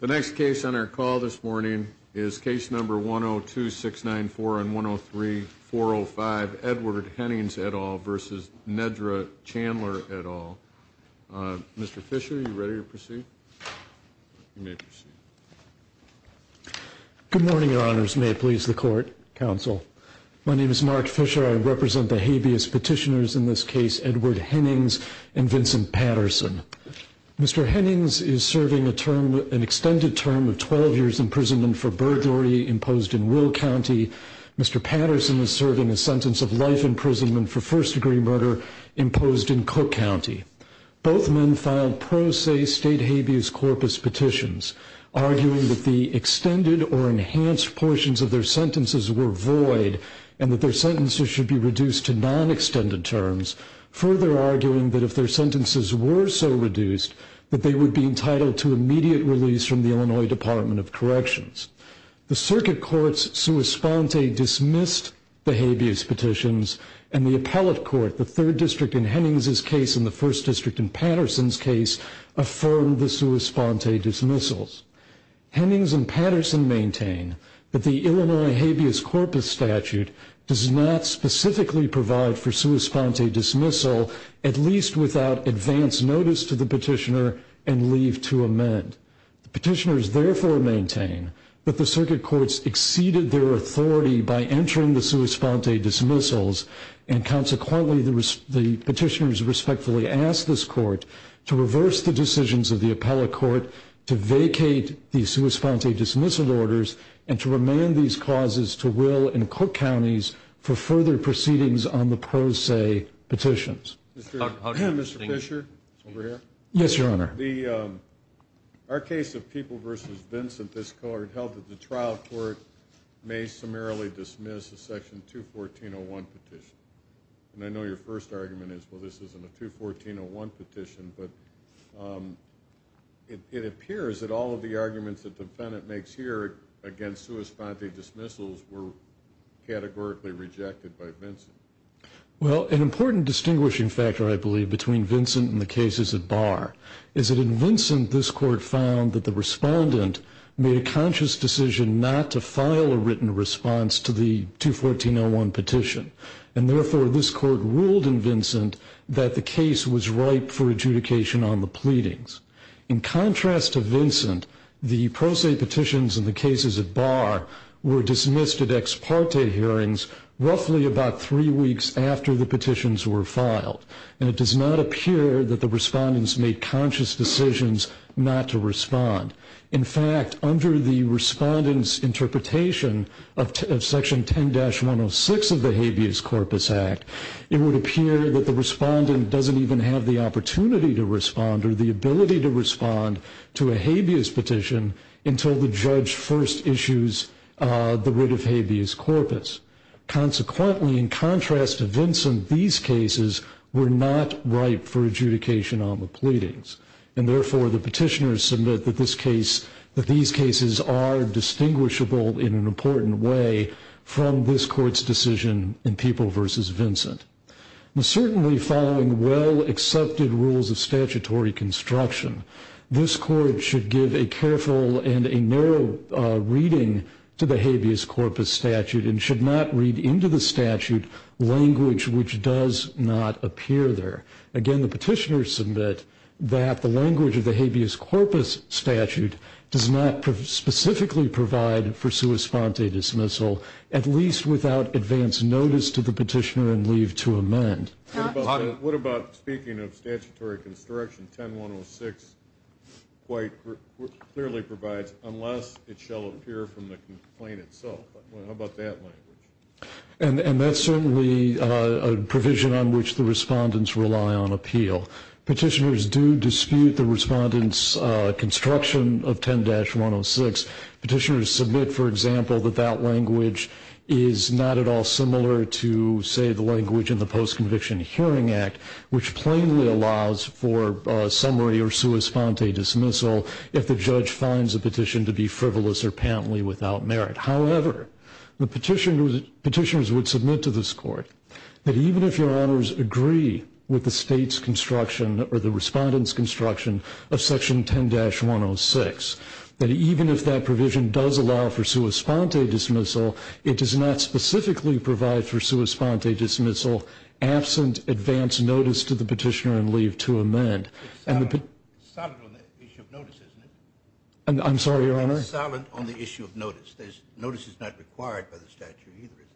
The next case on our call this morning is case number 102-694 and 103-405, Edward Hennings et al. v. Nedra Chandler et al. Mr. Fisher, are you ready to proceed? You may proceed. Good morning, Your Honors. May it please the Court, Counsel. My name is Mark Fisher. I represent the habeas petitioners in this case, Edward Hennings and Vincent Patterson. Mr. Hennings is serving an extended term of 12 years' imprisonment for burglary imposed in Will County. Mr. Patterson is serving a sentence of life imprisonment for first-degree murder imposed in Cook County. Both men filed pro se state habeas corpus petitions, arguing that the extended or enhanced portions of their sentences were void and that their sentences should be reduced to non-extended terms, further arguing that if their sentences were so reduced, that they would be entitled to immediate release from the Illinois Department of Corrections. The Circuit Court's sua sponte dismissed the habeas petitions, and the Appellate Court, the Third District in Hennings' case and the First District in Patterson's case, affirmed the sua sponte dismissals. Hennings and Patterson maintain that the Illinois habeas corpus statute does not specifically provide for sua sponte dismissal, at least without advance notice to the petitioner and leave to amend. The petitioners therefore maintain that the Circuit Courts exceeded their authority by entering the sua sponte dismissals, and consequently the petitioners respectfully asked this Court to reverse the decisions of the Appellate Court to vacate the sua sponte dismissal orders and to remand these causes to Will and Cook Counties for further proceedings on the pro se petitions. Mr. Fischer, over here. Yes, Your Honor. Our case of People v. Vincent, this Court held that the trial court may summarily dismiss the section 214.01 petition. And I know your first argument is, well, this isn't a 214.01 petition, but it appears that all of the arguments that the defendant makes here against sua sponte dismissals were categorically rejected by Vincent. Well, an important distinguishing factor, I believe, between Vincent and the cases at bar, is that in Vincent this Court found that the respondent made a conscious decision not to file a written response to the 214.01 petition. And therefore this Court ruled in Vincent that the case was ripe for adjudication on the pleadings. In contrast to Vincent, the pro se petitions in the cases at bar were dismissed at ex parte hearings roughly about three weeks after the petitions were filed. And it does not appear that the respondents made conscious decisions not to respond. In fact, under the respondent's interpretation of Section 10-106 of the Habeas Corpus Act, it would appear that the respondent doesn't even have the opportunity to respond or the ability to respond to a habeas petition until the judge first issues the writ of habeas corpus. Consequently, in contrast to Vincent, these cases were not ripe for adjudication on the pleadings. And therefore the petitioners submit that these cases are distinguishable in an important way from this Court's decision in People v. Vincent. Certainly following well-accepted rules of statutory construction, this Court should give a careful and a narrow reading to the habeas corpus statute and should not read into the statute language which does not appear there. Again, the petitioners submit that the language of the habeas corpus statute does not specifically provide for sua sponte dismissal, at least without advance notice to the petitioner and leave to amend. What about speaking of statutory construction? 10-106 clearly provides, unless it shall appear from the complaint itself. How about that language? And that's certainly a provision on which the respondents rely on appeal. Petitioners do dispute the respondent's construction of 10-106. Petitioners submit, for example, that that language is not at all similar to, say, the language in the Post-Conviction Hearing Act, which plainly allows for summary or sua sponte dismissal if the judge finds a petition to be frivolous or patently without merit. However, the petitioners would submit to this Court that even if Your Honors agree with the state's construction or the respondent's construction of section 10-106, that even if that provision does allow for sua sponte dismissal, it does not specifically provide for sua sponte dismissal absent advance notice to the petitioner and leave to amend. It's silent on the issue of notice, isn't it? I'm sorry, Your Honor? It's silent on the issue of notice. Notice is not required by the statute either, is it?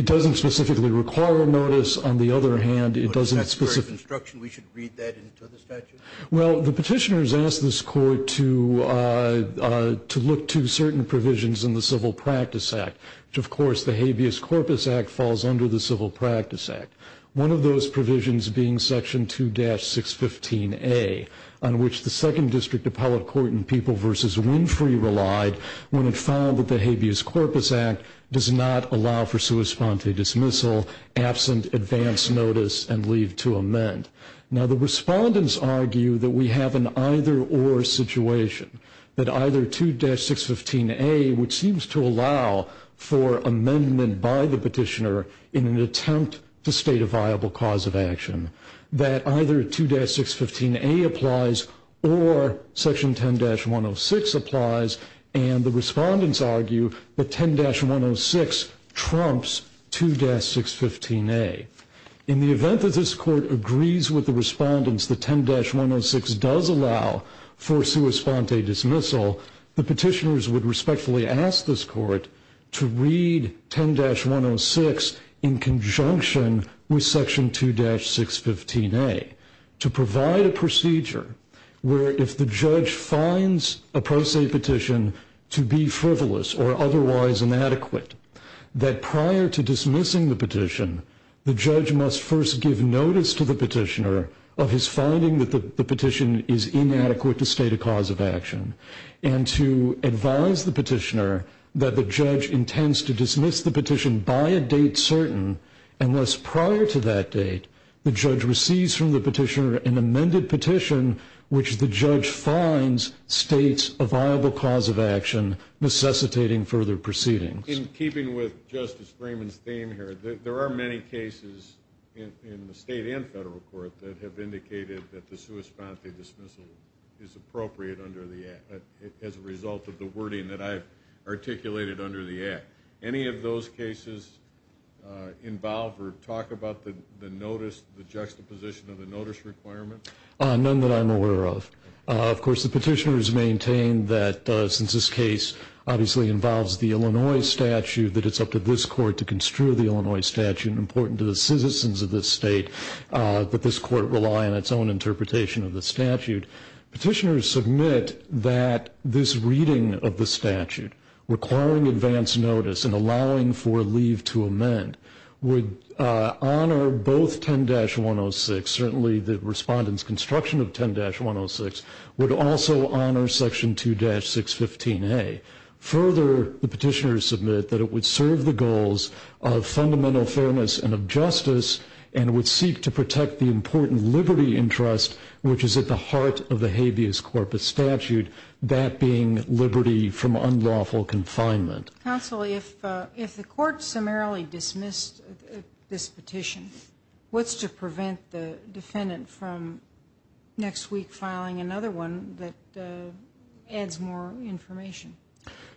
It doesn't specifically require a notice. On the other hand, it doesn't specifically... But if that's the very construction, we should read that into the statute? Well, the petitioners ask this Court to look to certain provisions in the Civil Practice Act, which, of course, the Habeas Corpus Act falls under the Civil Practice Act, one of those provisions being section 2-615A, on which the Second District Appellate Court in People v. Winfrey relied when it found that the Habeas Corpus Act does not allow for sua sponte dismissal absent advance notice and leave to amend. Now the respondents argue that we have an either-or situation, that either 2-615A, which seems to allow for amendment by the petitioner in an attempt to state a viable cause of action, that either 2-615A applies or section 10-106 applies, and the respondents argue that 10-106 trumps 2-615A. In the event that this Court agrees with the respondents that 10-106 does allow for sua sponte dismissal, the petitioners would respectfully ask this Court to read 10-106 in conjunction with section 2-615A to provide a procedure where if the judge finds a pro se petition to be frivolous or otherwise inadequate, that prior to dismissing the petition, the judge must first give notice to the petitioner of his finding that the petition is inadequate to state a cause of action, and to advise the petitioner that the judge intends to dismiss the petition by a date certain unless prior to that date the judge receives from the petitioner an amended petition which the judge finds states a viable cause of action necessitating further proceedings. In keeping with Justice Freeman's theme here, there are many cases in the State and Federal Court that have indicated that the sua sponte dismissal is appropriate under the Act as a result of the wording that I've articulated under the Act. Any of those cases involve or talk about the notice, the juxtaposition of the notice requirement? None that I'm aware of. Of course, the petitioners maintain that since this case obviously involves the Illinois statute, that it's up to this Court to construe the Illinois statute, important to the citizens of this State, that this Court rely on its own interpretation of the statute. Petitioners submit that this reading of the statute requiring advance notice and allowing for leave to amend would honor both 10-106, certainly the respondent's construction of 10-106, would also honor section 2-615A. Further, the petitioners submit that it would serve the goals of fundamental fairness and of justice and would seek to protect the important liberty and trust which is at the heart of the habeas corpus statute, that being liberty from unlawful confinement. Counsel, if the Court summarily dismissed this petition, what's to prevent the defendant from next week filing another one that adds more information?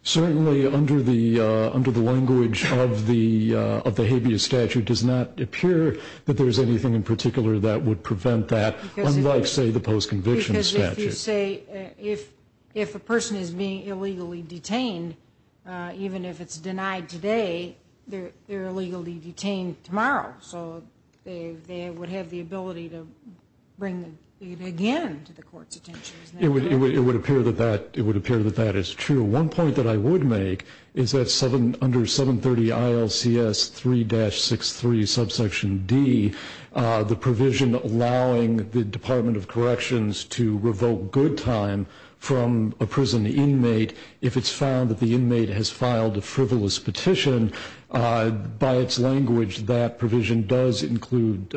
Certainly, under the language of the habeas statute, it does not appear that there's anything in particular that would prevent that, unlike, say, the post-conviction statute. Because if you say, if a person is being illegally detained, even if it's denied today, they're illegally detained tomorrow, so they would have the ability to bring it again to the Court's attention. It would appear that that is true. One point that I would make is that under 730 ILCS 3-63, subsection D, the provision allowing the Department of Corrections to revoke good time from a prison inmate, if it's found that the inmate has filed a frivolous petition, by its language, that provision does include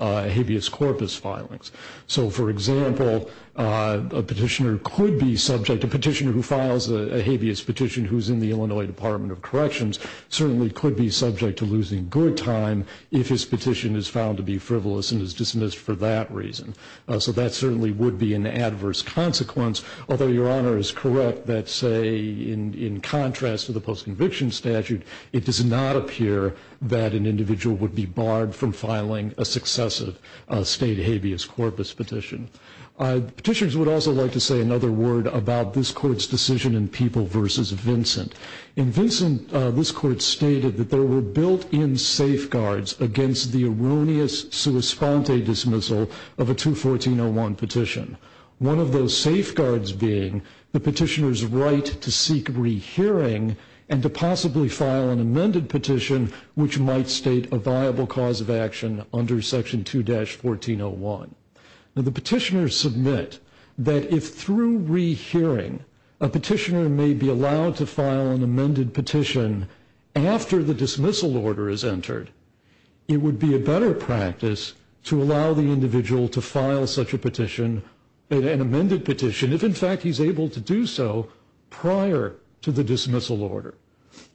habeas corpus filings. So, for example, a petitioner could be subject, a petitioner who files a habeas petition who's in the Illinois Department of Corrections, certainly could be subject to losing good time if his petition is found to be frivolous and is dismissed for that reason. So that certainly would be an adverse consequence. Although Your Honor is correct that, say, in contrast to the post-conviction statute, it does not appear that an individual would be barred from filing a successive state habeas corpus petition. Petitioners would also like to say another word about this Court's decision in People v. Vincent. In Vincent, this Court stated that there were built-in safeguards against the erroneous sua sponte dismissal of a 214-01 petition, one of those safeguards being the petitioner's right to seek rehearing and to possibly file an amended petition, which might state a viable cause of action under Section 2-1401. Now, the petitioners submit that if, through rehearing, a petitioner may be allowed to file an amended petition after the dismissal order is entered, it would be a better practice to allow the individual to file such a petition, an amended petition, if, in fact, he's able to do so prior to the dismissal order.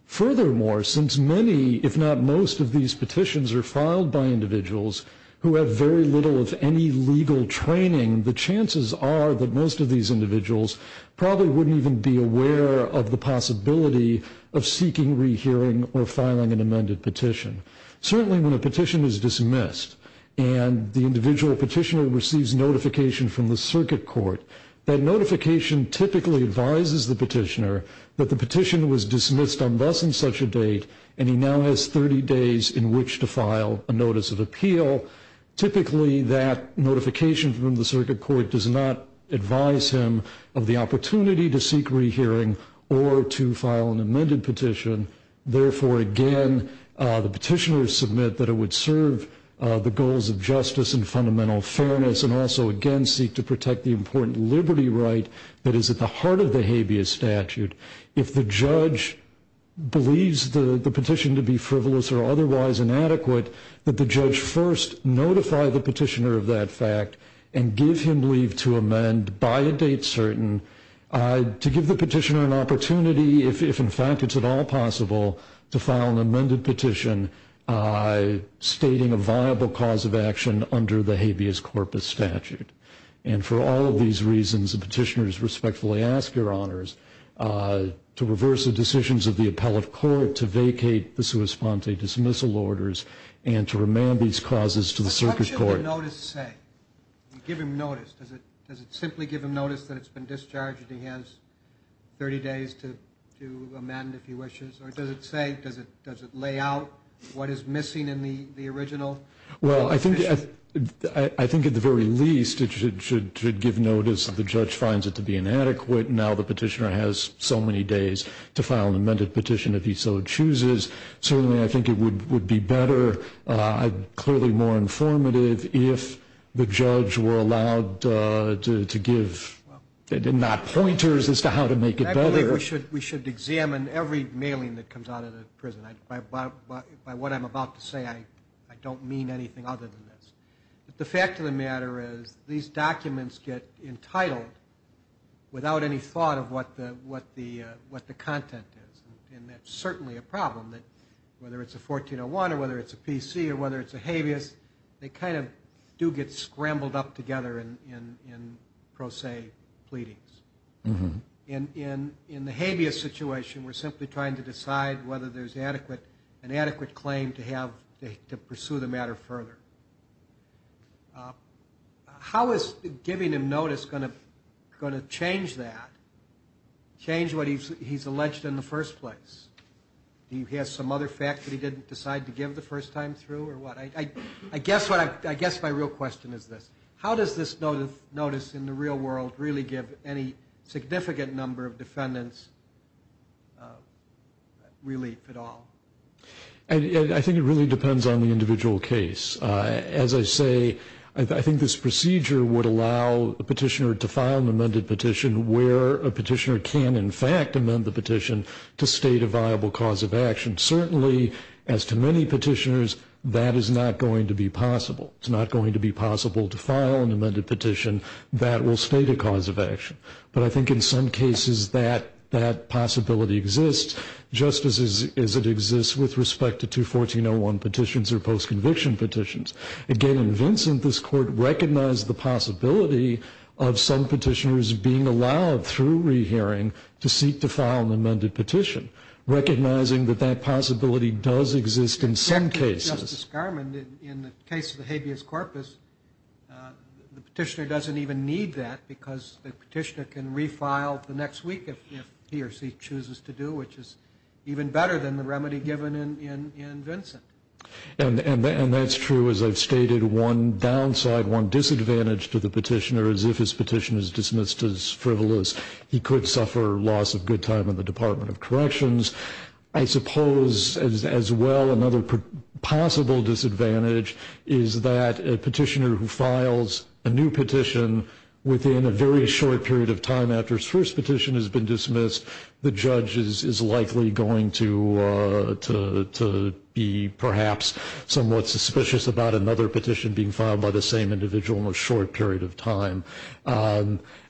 Furthermore, since many, if not most, of these petitions are filed by individuals who have very little of any legal training, the chances are that most of these individuals probably wouldn't even be aware of the possibility of seeking rehearing or filing an amended petition. Certainly, when a petition is dismissed and the individual petitioner receives notification from the circuit court, that notification typically advises the petitioner that the petition was dismissed on thus and such a date and he now has 30 days in which to file a notice of appeal. Typically, that notification from the circuit court does not advise him of the opportunity to seek rehearing or to file an amended petition. Therefore, again, the petitioners submit that it would serve the goals of justice and fundamental fairness and also, again, seek to protect the important liberty right that is at the heart of the habeas statute. If the judge believes the petition to be frivolous or otherwise inadequate, that the judge first notify the petitioner of that fact and give him leave to amend by a date certain to give the petitioner an opportunity, if in fact it's at all possible, to file an amended petition stating a viable cause of action under the habeas corpus statute. And for all of these reasons, the petitioners respectfully ask your honors to reverse the decisions of the appellate court to vacate the sua sponte dismissal orders and to remand these causes to the circuit court. What does the notice say? Give him notice. Does it simply give him notice that it's been discharged and he has 30 days to amend, if he wishes? Or does it say, does it lay out what is missing in the original? Well, I think at the very least it should give notice that the judge finds it to be inadequate. Now the petitioner has so many days to file an amended petition if he so chooses. Certainly, I think it would be better. Clearly more informative if the judge were allowed to give not pointers as to how to make it better. I believe we should examine every mailing that comes out of the prison. By what I'm about to say, I don't mean anything other than this. The fact of the matter is these documents get entitled without any thought of what the content is. And that's certainly a problem. Whether it's a 1401 or whether it's a PC or whether it's a habeas, they kind of do get scrambled up together in pro se pleadings. In the habeas situation, we're simply trying to decide whether there's an adequate claim to pursue the matter further. How is giving him notice going to change that? Change what he's alleged in the first place? Do you have some other fact that he didn't decide to give the first time through or what? I guess my real question is this. How does this notice in the real world really give any significant number of defendants relief at all? I think it really depends on the individual case. As I say, I think this procedure would allow a petitioner to file an amended petition where a petitioner can, in fact, amend the petition to state a viable cause of action. Certainly, as to many petitioners, that is not going to be possible. It's not going to be possible to file an amended petition that will state a cause of action. But I think in some cases that possibility exists just as it exists with respect to 214.01 petitions or post-conviction petitions. Again, in Vincent, this Court recognized the possibility of some petitioners being allowed through rehearing to seek to file an amended petition, recognizing that that possibility does exist in some cases. Justice Garmon, in the case of the habeas corpus, the petitioner doesn't even need that because the petitioner can refile the next week if he or she chooses to do, which is even better than the remedy given in Vincent. And that's true, as I've stated. One downside, one disadvantage to the petitioner is if his petition is dismissed as frivolous, he could suffer loss of good time in the Department of Corrections. I suppose, as well, another possible disadvantage is that a petitioner who files a new petition within a very short period of time after his first petition has been dismissed, the judge is likely going to be perhaps somewhat suspicious about another petition being filed by the same individual in a short period of time.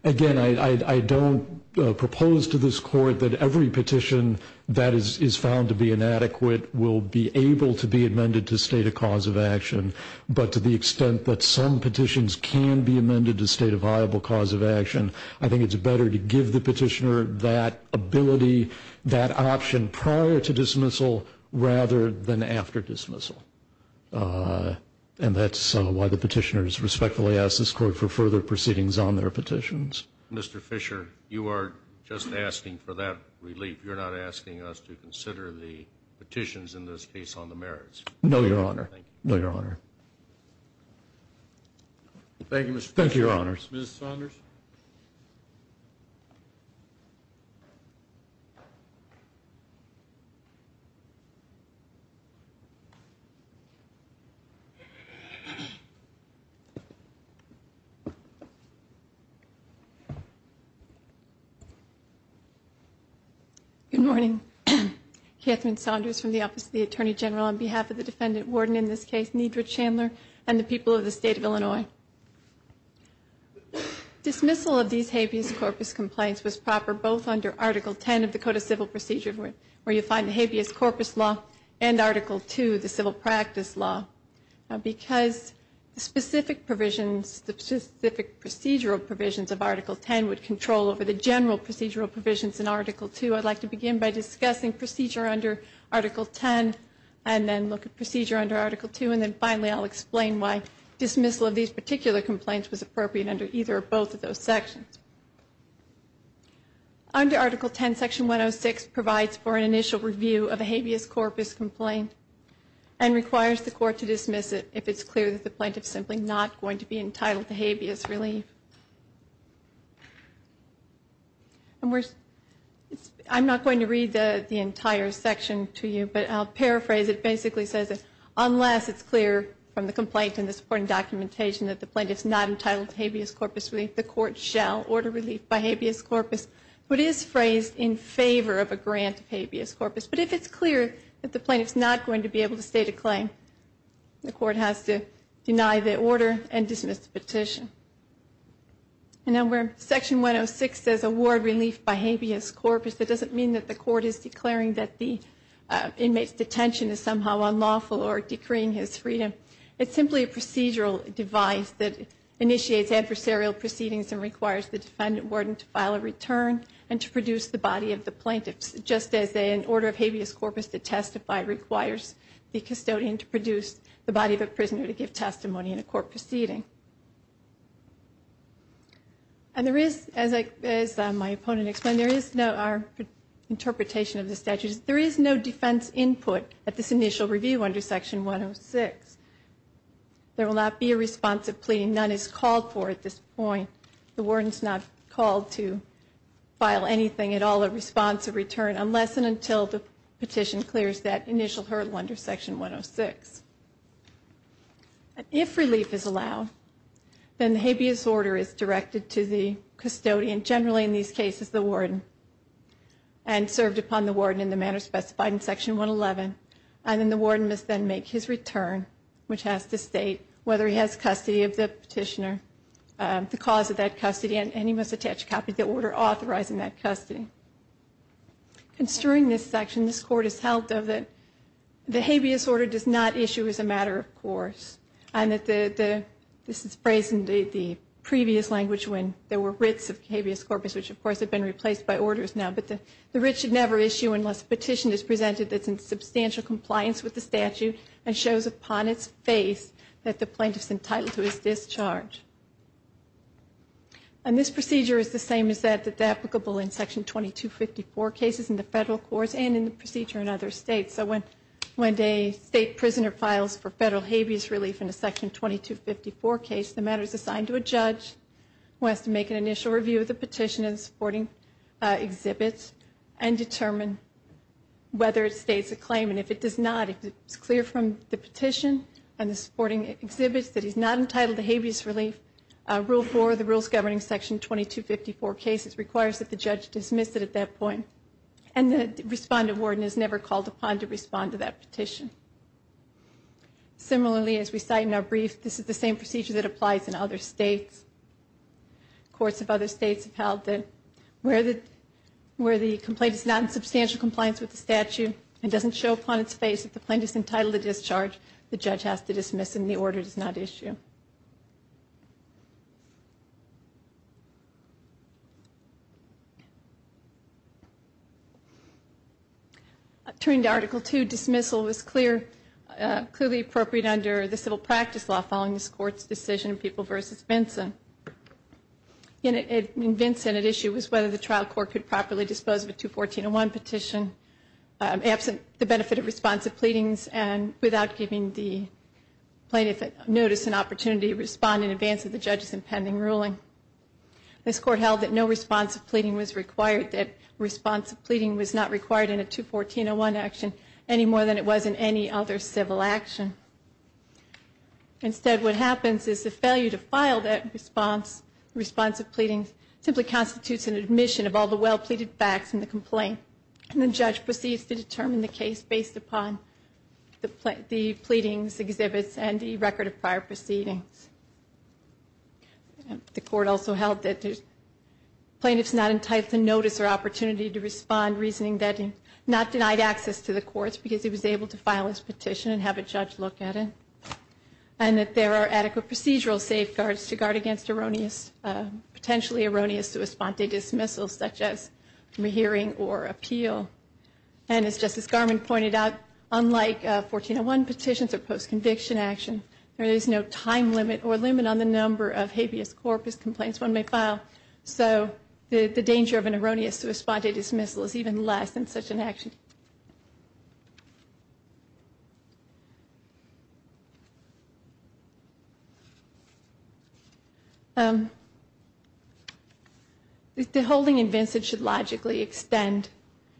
Again, I don't propose to this Court that every petition that is found to be inadequate will be able to be amended to state a cause of action, but to the extent that some petitions can be amended to state a viable cause of action, I think it's better to give the petitioner that ability, that option, prior to dismissal rather than after dismissal. And that's why the petitioners respectfully ask this Court for further proceedings on their petitions. Mr. Fisher, you are just asking for that relief. You're not asking us to consider the petitions in this case on the merits. No, Your Honor. No, Your Honor. Thank you, Mr. Fisher. Thank you, Your Honors. Ms. Saunders. Good morning. Katherine Saunders from the Office of the Attorney General on behalf of the Defendant Warden in this case, Nedra Chandler, and the people of the State of Illinois. Dismissal of these habeas corpus complaints was proper both under Article 10 of the Code of Civil Procedure, where you find the habeas corpus law and Article 2, the civil practice law, because the specific procedural provisions of Article 10 would control over the general procedural provisions in Article 2. I'd like to begin by discussing procedure under Article 10 and then look at procedure under Article 2, and then finally I'll explain why dismissal of these particular complaints was appropriate under either or both of those sections. Under Article 10, Section 106 provides for an initial review of a habeas corpus complaint and requires the court to dismiss it if it's clear that the plaintiff's simply not going to be entitled to habeas relief. I'm not going to read the entire section to you, but I'll paraphrase. It basically says that unless it's clear from the complaint and the supporting documentation that the plaintiff's not entitled to habeas corpus relief, the court shall order relief by habeas corpus. It is phrased in favor of a grant of habeas corpus, but if it's clear that the plaintiff's not going to be able to state a claim, the court has to deny the order and dismiss the petition. And then where Section 106 says award relief by habeas corpus, that doesn't mean that the court is declaring that the inmate's detention is somehow unlawful or decreeing his freedom. It's simply a procedural device that initiates adversarial proceedings and requires the defendant warden to file a return and to produce the body of the plaintiff, just as an order of habeas corpus to testify requires the custodian to produce the body of a prisoner to give testimony in a court proceeding. And there is, as my opponent explained, there is no, our interpretation of the statute, there is no defense input at this initial review under Section 106. There will not be a responsive plea. None is called for at this point. The warden's not called to file anything at all, a responsive return, unless and until the petition clears that initial hurdle under Section 106. If relief is allowed, then the habeas order is directed to the custodian, generally in these cases the warden, and served upon the warden in the manner specified in Section 111, and then the warden must then make his return, which has to state whether he has custody of the petitioner, the cause of that custody, and he must attach a copy of the order authorizing that custody. Concerning this section, this Court has held, though, that the habeas order does not issue as a matter of course, and that the, this is phrased in the previous language when there were writs of habeas corpus, which of course have been replaced by orders now, but the writ should never issue unless a petition is presented that's in substantial compliance with the statute and shows upon its face that the plaintiff's entitled to his discharge. And this procedure is the same as that that's applicable in Section 2254 cases in the federal courts and in the procedure in other states. So when a state prisoner files for federal habeas relief in a Section 2254 case, the matter is assigned to a judge who has to make an initial review of the petition and supporting exhibits and determine whether it states a claim. And if it does not, if it's clear from the petition and the supporting exhibits that he's not entitled to habeas relief, Rule 4 of the Rules Governing Section 2254 cases requires that the judge dismiss it at that point. And the respondent warden is never called upon to respond to that petition. Similarly, as we cite in our brief, this is the same procedure that applies in other states. Courts of other states have held that where the complaint is not in substantial compliance with the statute and doesn't show upon its face that the plaintiff's entitled to discharge, the judge has to dismiss and the order does not issue. Turning to Article 2, dismissal is clearly appropriate under the civil practice law following this Court's decision in People v. Vinson. In Vinson, at issue was whether the trial court could properly dispose of a 214-01 petition absent the benefit of responsive pleadings and without giving the plaintiff notice and opportunity to respond in advance of the judge's impending ruling. This Court held that no responsive pleading was required, that responsive pleading was not required in a 214-01 action any more than it was in any other civil action. Instead, what happens is the failure to file that responsive pleading simply constitutes an admission of all the well-pleaded facts in the complaint. And the judge proceeds to determine the case based upon the pleadings, exhibits, and the record of prior proceedings. The Court also held that the plaintiff's not entitled to notice or opportunity to respond, reasoning that he not denied access to the courts because he was able to file his petition and have a judge look at it, and that there are adequate procedural safeguards to guard against erroneous, sua sponte dismissals such as re-hearing or appeal. And as Justice Garmon pointed out, unlike 14-01 petitions or post-conviction action, there is no time limit or limit on the number of habeas corpus complaints one may file, so the danger of an erroneous sua sponte dismissal is even less in such an action. The holding in Vincent should logically extend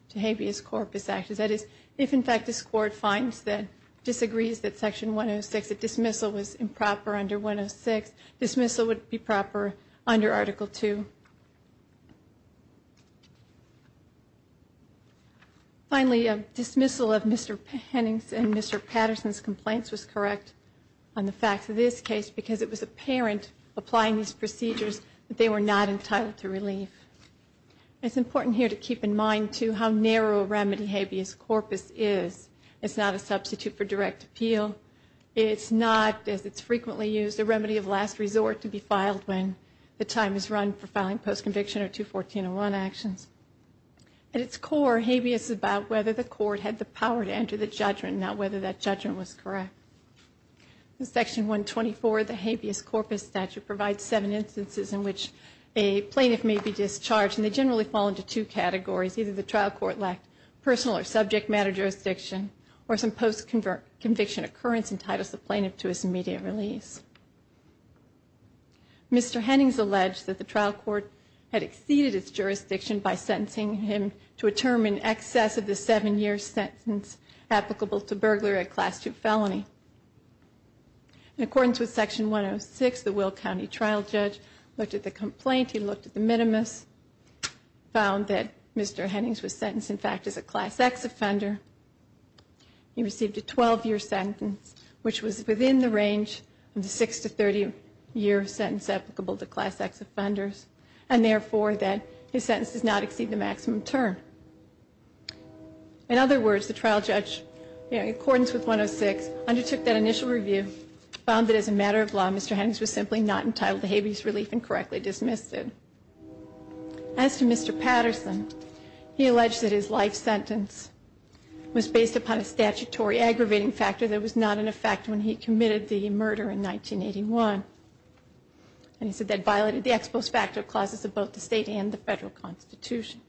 to habeas corpus actions. That is, if in fact this Court finds that, disagrees that Section 106, that dismissal was improper under 106, dismissal would be proper under Article II. Finally, a dismissal of Mr. Pennington and Mr. Patterson's complaints was correct on the facts of this case because it was apparent, applying these procedures, that they were not entitled to relief. It's important here to keep in mind, too, how narrow a remedy habeas corpus is. It's not a substitute for direct appeal. It's not, as it's frequently used, a remedy of last resort to be filed when the time is run for filing post-conviction or 214-01 actions. At its core, habeas is about whether the Court had the power to enter the judgment, not whether that judgment was correct. In Section 124, the habeas corpus statute provides seven instances in which a plaintiff may be discharged, and they generally fall into two categories. Either the trial court lacked personal or subject matter jurisdiction, or some post-conviction occurrence entitled the plaintiff to his immediate release. Mr. Hennings alleged that the trial court had exceeded its jurisdiction by sentencing him to a term in excess of the seven-year sentence applicable to burglary, a Class II felony. In accordance with Section 106, the Will County trial judge looked at the complaint, he looked at the minimus, found that Mr. Hennings was sentenced, in fact, as a Class X offender. He received a 12-year sentence, which was within the range of the 6-30-year sentence applicable to Class X offenders, and therefore that his sentence does not exceed the maximum term. In other words, the trial judge, in accordance with 106, undertook that initial review, found that as a matter of law, Mr. Hennings was simply not entitled to habeas relief and correctly dismissed it. As to Mr. Patterson, he alleged that his life sentence was based upon a statutory aggravating factor that was not in effect when he committed the murder in 1981. And he said that violated the ex post facto clauses of both the state and the federal constitution.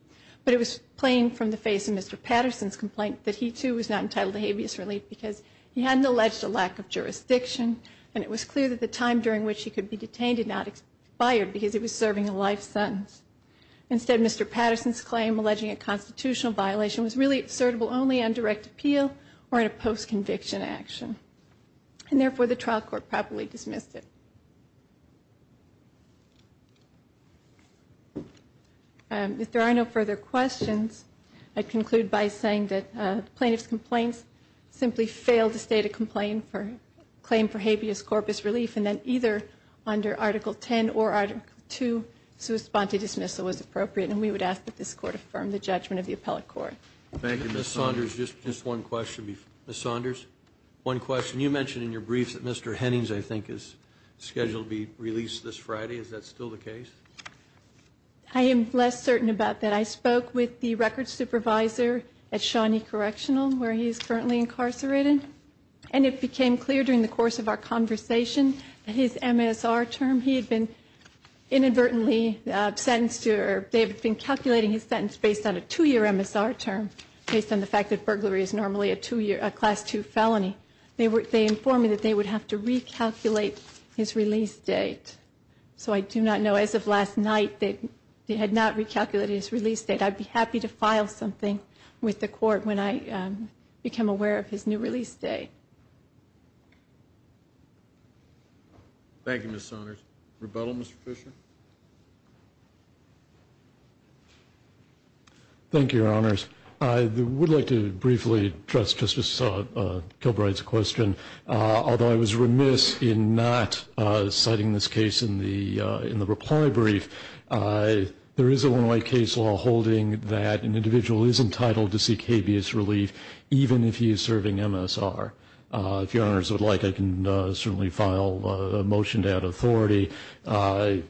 But it was plain from the face of Mr. Patterson's complaint that he too was not entitled to habeas relief because he hadn't alleged a lack of jurisdiction, and it was clear that the time during which he could be detained had not expired because he was serving a life sentence. Instead, Mr. Patterson's claim alleging a constitutional violation was really assertable only on direct appeal or in a post-conviction action. And therefore, the trial court properly dismissed it. If there are no further questions, I'd conclude by saying that plaintiff's complaints simply failed to state a complaint for claim for habeas corpus relief, and that either under Article 10 or Article 2, sua sponte dismissal was appropriate, and we would ask that this court affirm the judgment of the appellate court. Thank you. Ms. Saunders, just one question. Ms. Saunders, one question. You mentioned in your briefs that Mr. Hennings, I think, is scheduled to be released this Friday. Is that still the case? I am less certain about that. I spoke with the records supervisor at Shawnee Correctional, where he is currently incarcerated, and it became clear during the course of our conversation that his MSR term, he had been inadvertently sentenced to, or they had been calculating his sentence based on a two-year MSR term, based on the fact that burglary is normally a two-year, a Class II felony. They informed me that they would have to recalculate his release date, so I do not know. As of last night, they had not recalculated his release date. I'd be happy to file something with the court when I become aware of his new release date. Thank you, Ms. Saunders. Thank you, Your Honors. I would like to briefly address Justice Kilbride's question. Although I was remiss in not citing this case in the reply brief, there is a one-way case law holding that an individual is entitled to seek habeas relief even if he is serving MSR. If Your Honors would like, I can certainly file a motion to add authority. A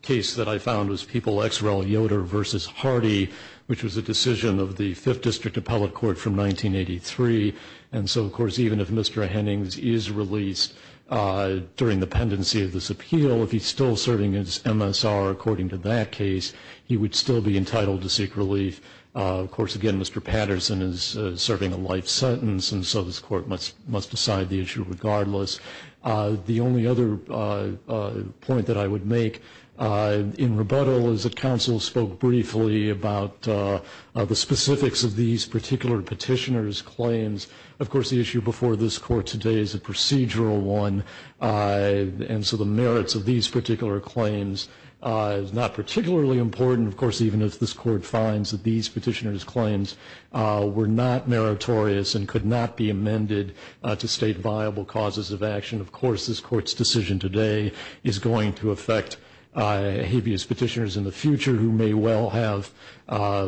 case that I found was People x Rel Yoder v. Hardy, which was a decision of the Fifth District Appellate Court from 1983, and so, of course, even if Mr. Hennings is released during the pendency of this appeal, if he's still serving his MSR according to that case, he would still be entitled to seek relief. Of course, again, Mr. Patterson is serving a life sentence, and so this Court must decide the issue regardless. The only other point that I would make in rebuttal is that counsel spoke briefly about the specifics of these particular petitioners' claims. Of course, the issue before this Court today is a procedural one, and so the merits of these particular claims is not particularly important. Of course, even if this Court finds that these petitioners' claims were not meritorious and could not be amended to state viable causes of action, of course, this Court's decision today is going to affect habeas petitioners in the future who may well have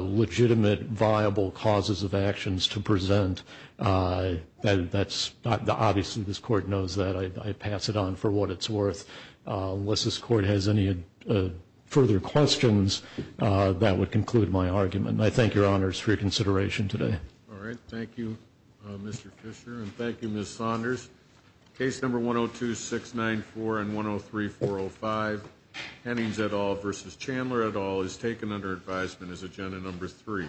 legitimate viable causes of actions to present. Obviously, this Court knows that. I pass it on for what it's worth. Unless this Court has any further questions, that would conclude my argument. I thank your Honors for your consideration today. All right. Thank you, Mr. Fisher, and thank you, Ms. Saunders. Case No. 102-694 and 103-405, Hennings et al. v. Chandler et al. is taken under advisement as Agenda No. 3.